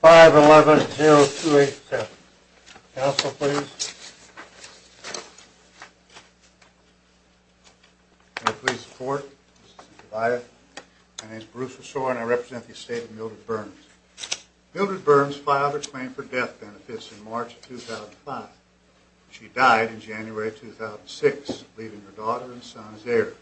5-11-0287. Council, please. May I please have your support? My name is Bruce Ressore and I represent the estate of Mildred Burns. Mildred Burns filed her claim for death benefits in March 2005. She died in January 2006, leaving her daughter and son as heirs.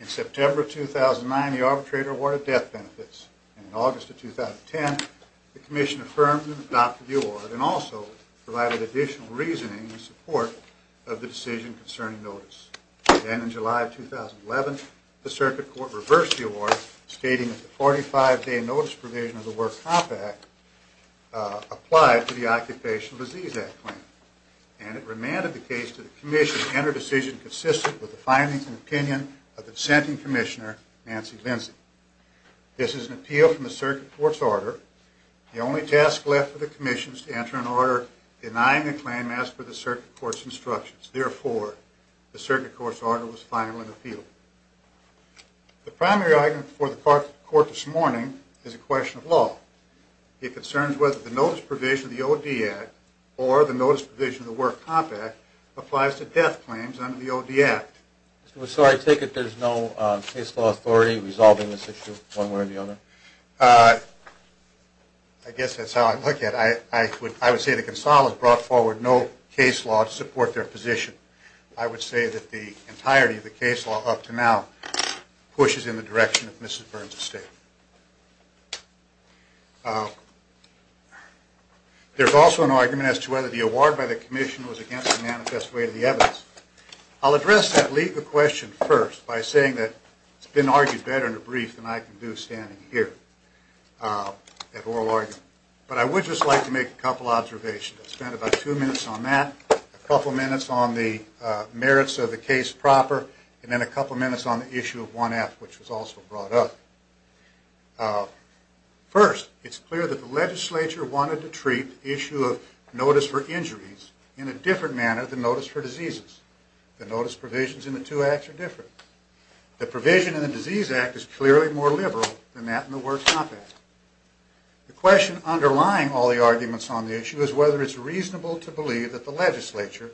In September 2009, the arbitrator awarded death benefits. In August of 2010, the Commission affirmed and adopted the award and also provided additional reasoning in support of the decision concerning notice. Then in July of 2011, the Circuit Court reversed the award, stating that the 45-day notice provision of the Workers' Comp'n Act applied to the Occupational Disease Act claim. And it remanded the case to the Commission to enter a decision consistent with the findings and opinion of the dissenting Commissioner, Nancy Lindsay. This is an appeal from the Circuit Court's order. The only task left for the Commission is to enter an order denying the claim as per the Circuit Court's instructions. Therefore, the Circuit Court's order was finally appealed. The primary argument before the Court this morning is a question of law. It concerns whether the notice provision of the OD Act or the notice provision of the Workers' Comp'n Act applies to death claims under the OD Act. So I take it there's no case law authority resolving this issue one way or the other? I guess that's how I look at it. I would say that Gonzales brought forward no case law to support their position. I would say that the entirety of the case law up to now pushes in the direction of Mrs. Burns' statement. There's also an argument as to whether the award by the Commission was against the manifest way of the evidence. I'll address that legal question first by saying that it's been argued better in a brief than I can do standing here at oral argument. But I would just like to make a couple observations. I spent about two minutes on that, a couple minutes on the merits of the case proper, and then a couple minutes on the issue of 1F, which was also brought up. First, it's clear that the legislature wanted to treat the issue of notice for injuries in a different manner than notice for diseases. The notice provisions in the two acts are different. The provision in the Disease Act is clearly more liberal than that in the Workers' Comp'n Act. The question underlying all the arguments on the issue is whether it's reasonable to believe that the legislature,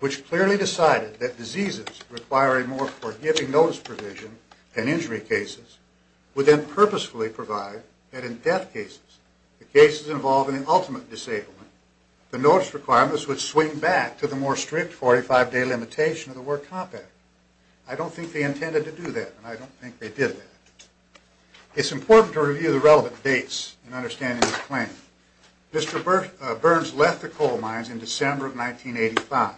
which clearly decided that diseases require a more forgiving notice provision than injury cases, would then purposefully provide that in death cases, the cases involving the ultimate disablement, the notice requirements would swing back to the more strict 45-day limitation of the Worker's Comp'n Act. I don't think they intended to do that, and I don't think they did that. It's important to review the relevant dates in understanding this claim. Mr. Burns left the coal mines in December of 1985.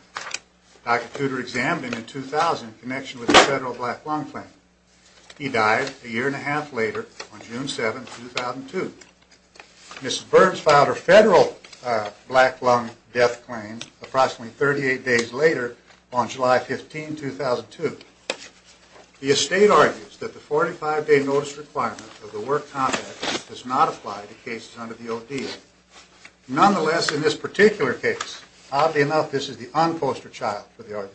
Dr. Tudor examined him in 2000 in connection with a federal black lung claim. He died a year and a half later on June 7, 2002. Mrs. Burns filed her federal black lung death claim approximately 38 days later on July 15, 2002. The estate argues that the 45-day notice requirement of the Worker's Comp'n Act does not apply to cases under the O.D.A. Nonetheless, in this particular case, oddly enough, this is the unposter child for the argument.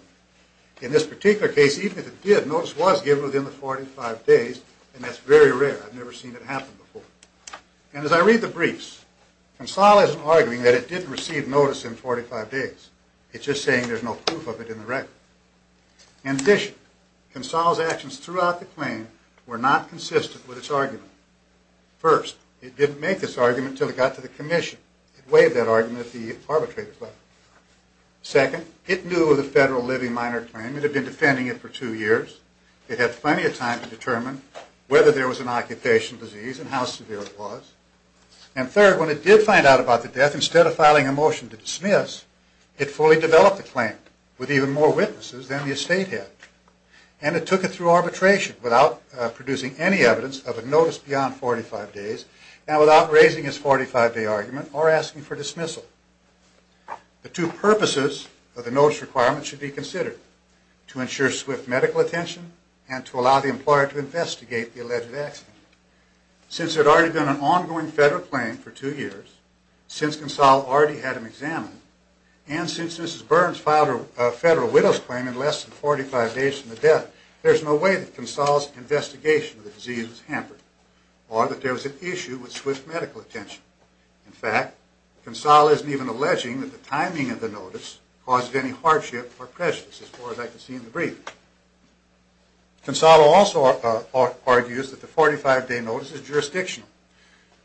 In this particular case, even if it did, notice was given within the 45 days, and that's very rare. I've never seen it happen before. And as I read the briefs, Consal isn't arguing that it didn't receive notice in 45 days. It's just saying there's no proof of it in the record. In addition, Consal's actions throughout the claim were not consistent with its argument. First, it didn't make this argument until it got to the commission. It waived that argument at the arbitration level. Second, it knew of the federal living minor claim. It had been defending it for two years. It had plenty of time to determine whether there was an occupational disease and how severe it was. And third, when it did find out about the death, instead of filing a motion to dismiss, it fully developed the claim with even more witnesses than the estate had. And it took it through arbitration without producing any evidence of a notice beyond 45 days and without raising its 45-day argument or asking for dismissal. The two purposes of the notice requirement should be considered, to ensure swift medical attention and to allow the employer to investigate the alleged accident. Since there had already been an ongoing federal claim for two years, since Consal already had him examined, and since Mrs. Burns filed a federal widow's claim in less than 45 days from the death, there is no way that Consal's investigation of the disease was hampered or that there was an issue with swift medical attention. In fact, Consal isn't even alleging that the timing of the notice caused any hardship or prejudice, as far as I can see in the briefing. Consal also argues that the 45-day notice is jurisdictional.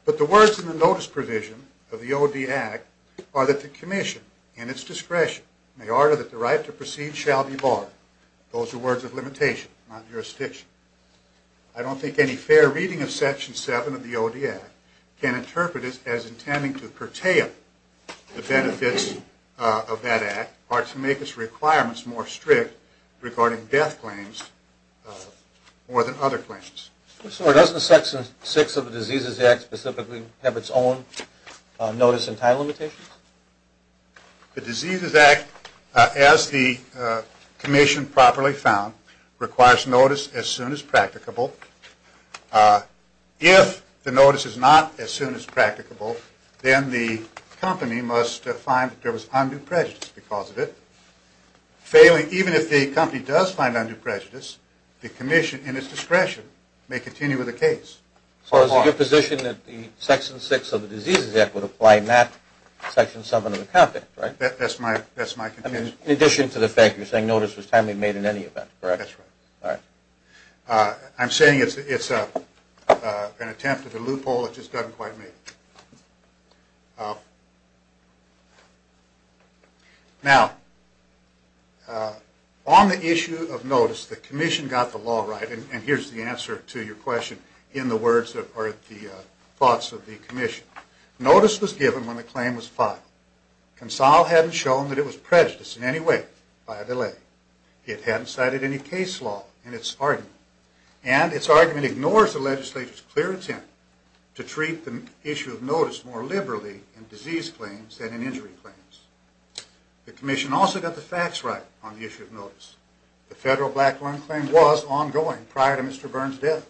But the words in the notice provision of the O.D. Act are that the commission, in its discretion, may order that the right to proceed shall be barred. Those are words of limitation, not jurisdiction. I don't think any fair reading of Section 7 of the O.D. Act can interpret it as intending to curtail the benefits of that Act or to make its requirements more strict regarding death claims more than other claims. Sir, doesn't Section 6 of the Diseases Act specifically have its own notice and time limitations? The Diseases Act, as the commission properly found, requires notice as soon as practicable. If the notice is not as soon as practicable, then the company must find that there was undue prejudice because of it. Even if the company does find undue prejudice, the commission, in its discretion, may continue with the case. So is it your position that the Section 6 of the Diseases Act would apply not Section 7 of the Compact, right? That's my conclusion. In addition to the fact that you're saying notice was timely made in any event, correct? That's right. All right. I'm saying it's an attempt at a loophole that just doesn't quite make it. Now, on the issue of notice, the commission got the law right. And here's the answer to your question in the words or the thoughts of the commission. Notice was given when the claim was filed. Consol hadn't shown that it was prejudiced in any way by a delay. It hadn't cited any case law in its argument. And its argument ignores the legislature's clear intent to treat the issue of notice more liberally in disease claims than in injury claims. The commission also got the facts right on the issue of notice. The federal black lung claim was ongoing prior to Mr. Burns' death.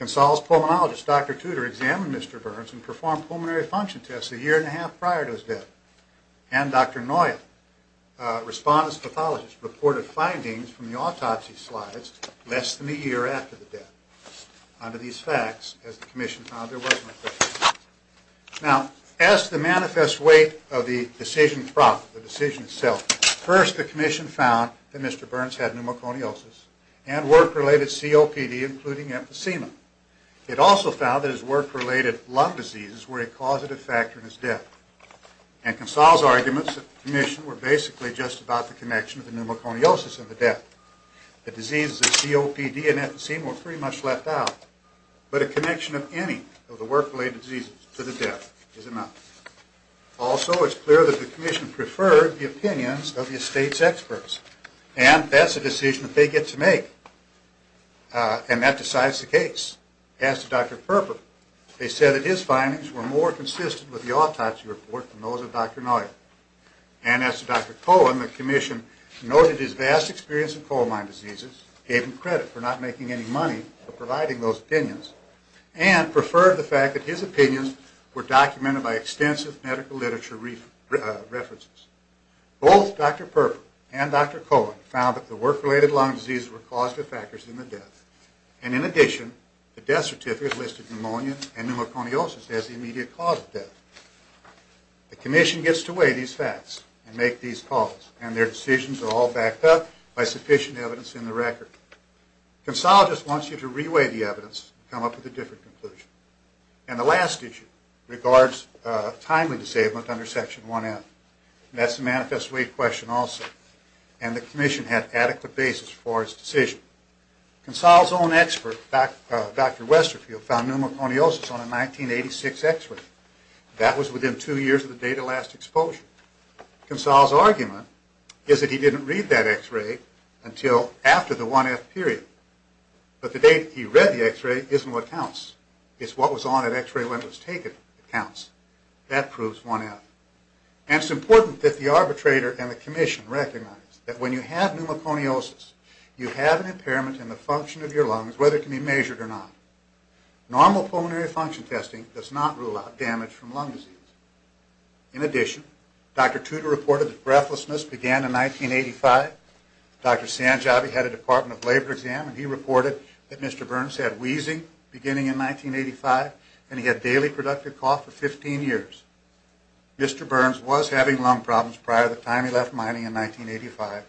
Consol's pulmonologist, Dr. Tudor, examined Mr. Burns and performed pulmonary function tests a year and a half prior to his death. And Dr. Noya, a respondent's pathologist, reported findings from the autopsy slides less than a year after the death. Under these facts, as the commission found, there was no prejudice. Now, as to the manifest weight of the decision itself, first the commission found that Mr. Burns had pneumoconiosis and work-related COPD, including emphysema. It also found that his work-related lung diseases were a causative factor in his death. And Consol's arguments at the commission were basically just about the connection of the pneumoconiosis and the death. The diseases of COPD and emphysema were pretty much left out. But a connection of any of the work-related diseases to the death is enough. Also, it's clear that the commission preferred the opinions of the estate's experts. And that's a decision that they get to make. And that decides the case. As to Dr. Perper, they said that his findings were more consistent with the autopsy report than those of Dr. Noya. And as to Dr. Cohen, the commission noted his vast experience in coal mine diseases, gave him credit for not making any money for providing those opinions, and preferred the fact that his opinions were documented by extensive medical literature references. Both Dr. Perper and Dr. Cohen found that the work-related lung diseases were causative factors in the death. And in addition, the death certificate listed pneumonia and pneumoconiosis as the immediate cause of death. The commission gets to weigh these facts and make these calls. And their decisions are all backed up by sufficient evidence in the record. Consol just wants you to re-weigh the evidence and come up with a different conclusion. And the last issue regards timely disablement under Section 1F. And that's a manifest way question also. And the commission had adequate basis for its decision. Consol's own expert, Dr. Westerfield, found pneumoconiosis on a 1986 x-ray. That was within two years of the date of last exposure. Consol's argument is that he didn't read that x-ray until after the 1F period. But the date he read the x-ray isn't what counts. It's what was on that x-ray when it was taken that counts. That proves 1F. And it's important that the arbitrator and the commission recognize that when you have pneumoconiosis, you have an impairment in the function of your lungs, whether it can be measured or not. Normal pulmonary function testing does not rule out damage from lung disease. In addition, Dr. Tudor reported that breathlessness began in 1985. Dr. Sanjabi had a Department of Labor exam and he reported that Mr. Burns had wheezing beginning in 1985 and he had daily productive cough for 15 years. Mr. Burns was having lung problems prior to the time he left mining in 1985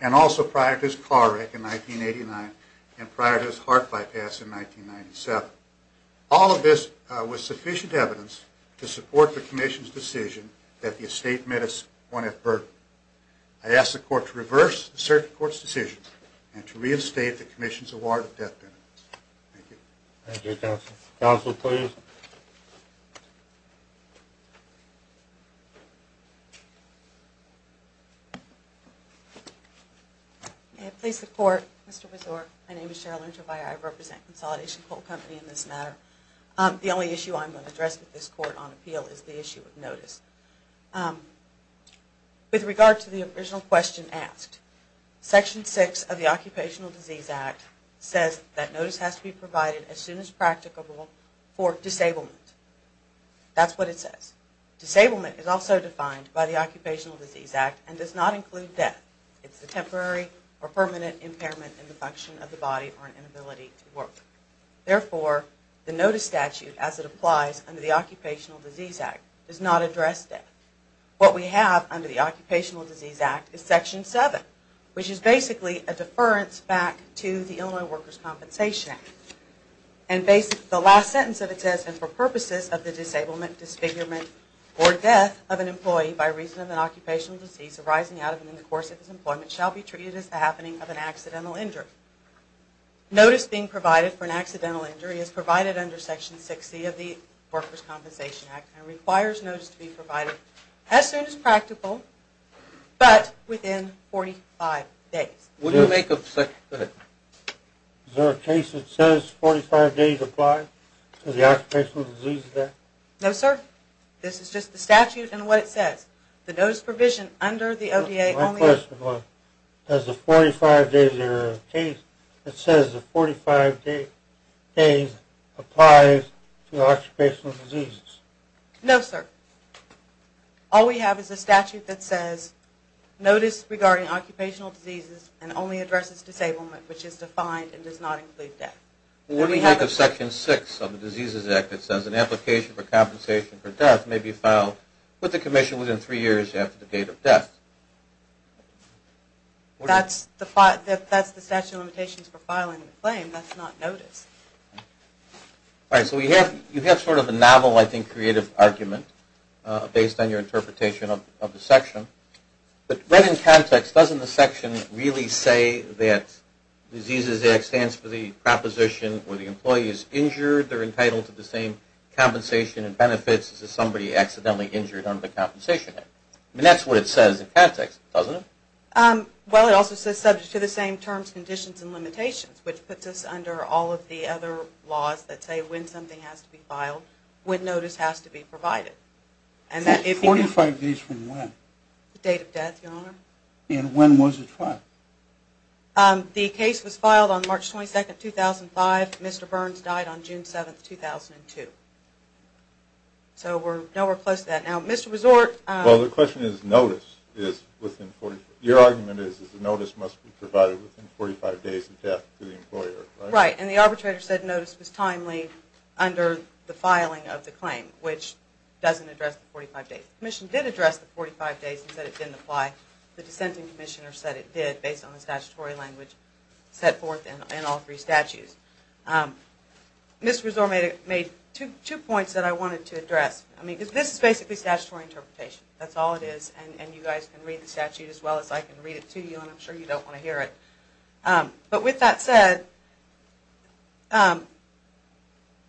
and also prior to his car wreck in 1989 and prior to his heart bypass in 1997. All of this was sufficient evidence to support the commission's decision that the estate met a 1F burden. I ask the court to reverse the circuit court's decision and to reinstate the commission's award of death benefits. Thank you. Thank you, counsel. Counsel, please. May it please the court. Mr. Besor, my name is Cheryl Enterbier. I represent Consolidation Coal Company in this matter. The only issue I'm going to address with this court on appeal is the issue of notice. With regard to the original question asked, Section 6 of the Occupational Disease Act says that notice has to be provided as soon as practicable for disablement. That's what it says. Disablement is also defined by the Occupational Disease Act and does not include death. It's a temporary or permanent impairment in the function of the body or an inability to work. Therefore, the notice statute as it applies under the Occupational Disease Act does not address death. What we have under the Occupational Disease Act is Section 7, which is basically a deference back to the Illinois Workers' Compensation Act. And the last sentence of it says, and for purposes of the disablement, disfigurement, or death of an employee by reason of an occupational disease arising out of and in the course of his employment shall be treated as the happening of an accidental injury. Notice being provided for an accidental injury is provided under Section 6C of the Workers' Compensation Act and requires notice to be provided as soon as practical, but within 45 days. Would you make a second? Is there a case that says 45 days apply to the Occupational Disease Act? No, sir. This is just the statute and what it says. The notice provision under the ODA only... ...has a 45-day case that says the 45-day case applies to occupational diseases. No, sir. All we have is a statute that says notice regarding occupational diseases and only addresses disablement, which is defined and does not include death. What do you make of Section 6 of the Diseases Act that says an application for compensation for death may be filed with the commission within three years after the date of death? That's the statute of limitations for filing the claim. That's not notice. All right. So you have sort of a novel, I think, creative argument based on your interpretation of the section. But right in context, doesn't the section really say that Diseases Act stands for the proposition where the employee is injured, they're entitled to the same compensation and benefits as if somebody accidentally injured under the Compensation Act? I mean, that's what it says in context, doesn't it? Well, it also says subject to the same terms, conditions, and limitations, which puts us under all of the other laws that say when something has to be filed, when notice has to be provided. Forty-five days from when? The date of death, Your Honor. And when was it filed? The case was filed on March 22, 2005. Mr. Burns died on June 7, 2002. So we're nowhere close to that now. Mr. Resort... Well, the question is notice is within... Your argument is that the notice must be provided within 45 days of death to the employer, right? Right. And the arbitrator said notice was timely under the filing of the claim, which doesn't address the 45 days. The commission did address the 45 days and said it didn't apply. The dissenting commissioner said it did based on the statutory language set forth in all three statutes. Mr. Resort made two points that I wanted to address. I mean, this is basically statutory interpretation. That's all it is, and you guys can read the statute as well as I can read it to you, and I'm sure you don't want to hear it. But with that said,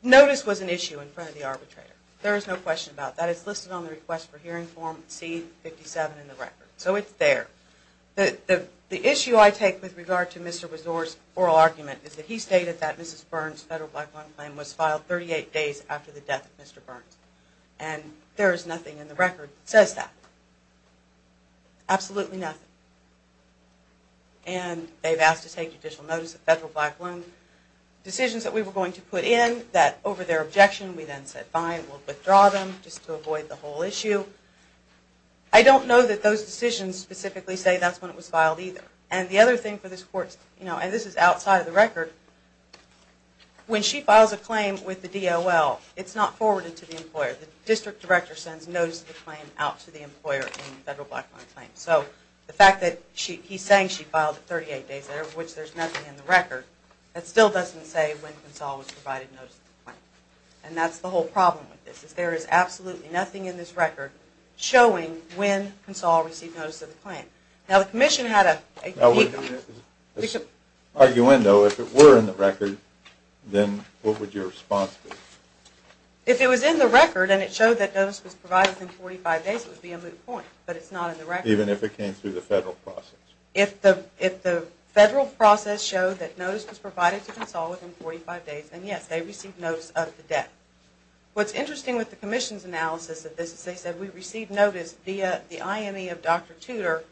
notice was an issue in front of the arbitrator. There is no question about that. It's listed on the request for hearing form C-57 in the record. So it's there. The issue I take with regard to Mr. Resort's oral argument is that he stated that Mrs. Burns' federal black loan claim was filed 38 days after the death of Mr. Burns. And there is nothing in the record that says that. Absolutely nothing. And they've asked to take judicial notice of federal black loan decisions that we were going to put in that over their objection we then said fine, we'll withdraw them just to avoid the whole issue. I don't know that those decisions specifically say that's when it was filed either. And the other thing for this court, and this is outside of the record, when she files a claim with the DOL, it's not forwarded to the employer. The district director sends notice of the claim out to the employer in the federal black loan claim. So the fact that he's saying she filed it 38 days later, of which there's nothing in the record, that still doesn't say when Quinsall was provided notice of the claim. And that's the whole problem with this. There is absolutely nothing in this record showing when Quinsall received notice of the claim. Now, the commission had a... We should argue in, though, if it were in the record, then what would your response be? If it was in the record and it showed that notice was provided within 45 days, it would be a moot point. But it's not in the record. Even if it came through the federal process? If the federal process showed that notice was provided to Quinsall within 45 days, then yes, they received notice of the death. What's interesting with the commission's analysis of this is they said we received notice via the IME of Dr. Tudor,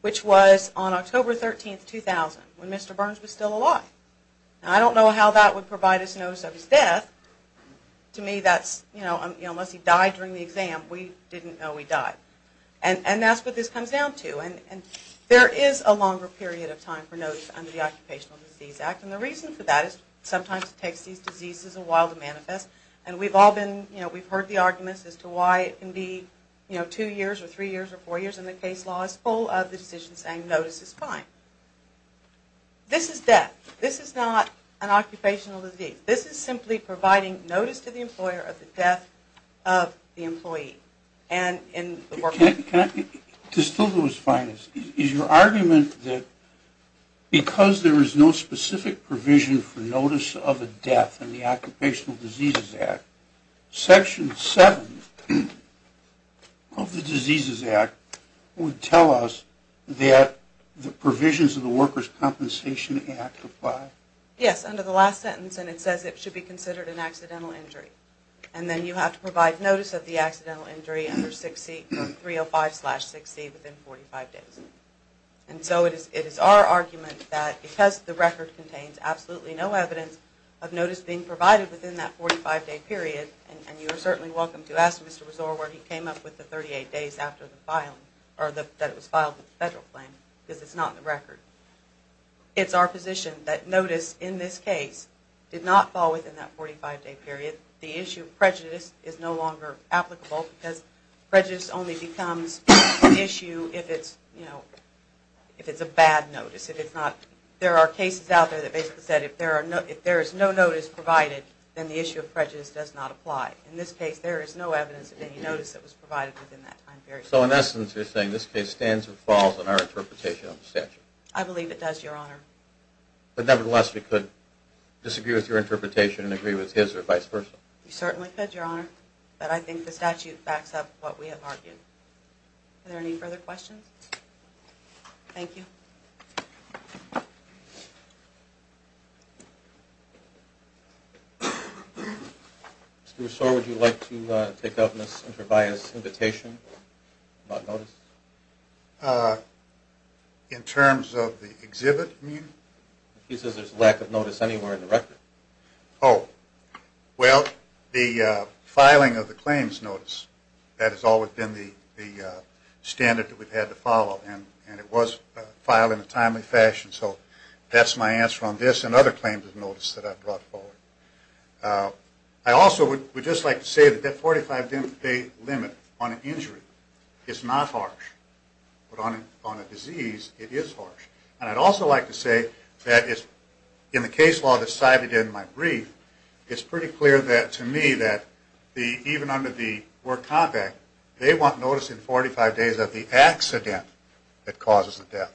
which was on October 13, 2000, when Mr. Burns was still alive. Now, I don't know how that would provide us notice of his death. To me, that's, you know, unless he died during the exam, we didn't know he died. And that's what this comes down to. And there is a longer period of time for notice under the Occupational Disease Act. And the reason for that is sometimes it takes these diseases a while to manifest. And we've all been, you know, we've heard the arguments as to why it can be, you know, two years or three years or four years and the case law is full of the decision saying notice is fine. This is death. This is not an occupational disease. This is simply providing notice to the employer of the death of the employee. To still do his findings, is your argument that because there is no specific provision for notice of a death in the Occupational Diseases Act, Section 7 of the Diseases Act would tell us that the provisions of the Workers' Compensation Act apply? Yes, under the last sentence. And it says it should be considered an accidental injury. And then you have to provide notice of the accidental injury under 305-6C within 45 days. And so it is our argument that because the record contains absolutely no evidence of notice being provided within that 45-day period, and you are certainly welcome to ask Mr. Rezor where he came up with the 38 days after the filing, or that it was filed with the federal claim, because it's not in the record. It's our position that notice in this case did not fall within that 45-day period. The issue of prejudice is no longer applicable because prejudice only becomes an issue if it's a bad notice. There are cases out there that basically said if there is no notice provided, then the issue of prejudice does not apply. In this case, there is no evidence of any notice that was provided within that time period. So in essence, you're saying this case stands or falls in our interpretation of the statute? I believe it does, Your Honor. But nevertheless, we could disagree with your interpretation and agree with his or vice versa. You certainly could, Your Honor. But I think the statute backs up what we have argued. Are there any further questions? Thank you. Mr. Rezor, would you like to take up Ms. Enterbias' invitation about notice? In terms of the exhibit, you mean? He says there's a lack of notice anywhere in the record. Oh. Well, the filing of the claims notice, that has always been the standard that we've had to follow. And it was filed in a timely fashion. So that's my answer on this and other claims of notice that I've brought forward. I also would just like to say that that 45-day limit on an injury is not harsh. But on a disease, it is harsh. And I'd also like to say that in the case law that's cited in my brief, it's pretty clear to me that even under the War Compact, they want notice in 45 days of the accident that causes the death,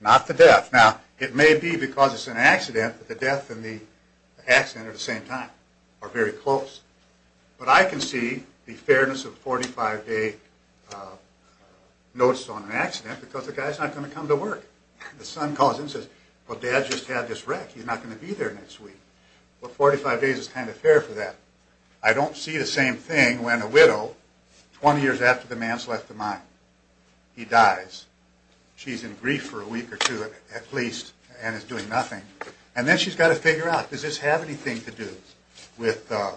not the death. Now, it may be because it's an accident that the death and the accident at the same time are very close. But I can see the fairness of 45-day notice on an accident because the guy's not going to come to work. The son calls in and says, well, Dad just had this wreck. He's not going to be there next week. Well, 45 days is kind of fair for that. I don't see the same thing when a widow, 20 years after the man's left the mine, he dies. She's in grief for a week or two at least and is doing nothing. And then she's got to figure out, does this have anything to do with the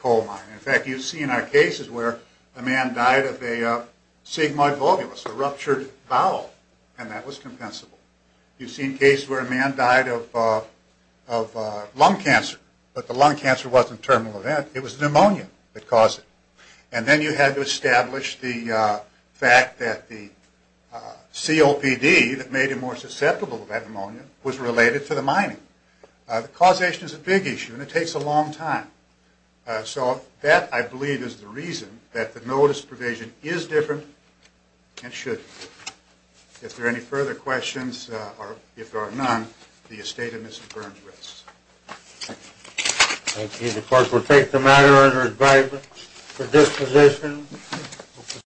coal mine? In fact, you see in our cases where a man died of a sigmoid volvulus, a ruptured bowel, and that was compensable. You've seen cases where a man died of lung cancer, but the lung cancer wasn't a terminal event. It was pneumonia that caused it. And then you had to establish the fact that the COPD that made him more susceptible to that pneumonia was related to the mining. The causation is a big issue and it takes a long time. So that, I believe, is the reason that the notice provision is different and should be. If there are any further questions, or if there are none, the estate of Mrs. Burns rests. Thank you. The clerk will take the matter under advisement for disposition.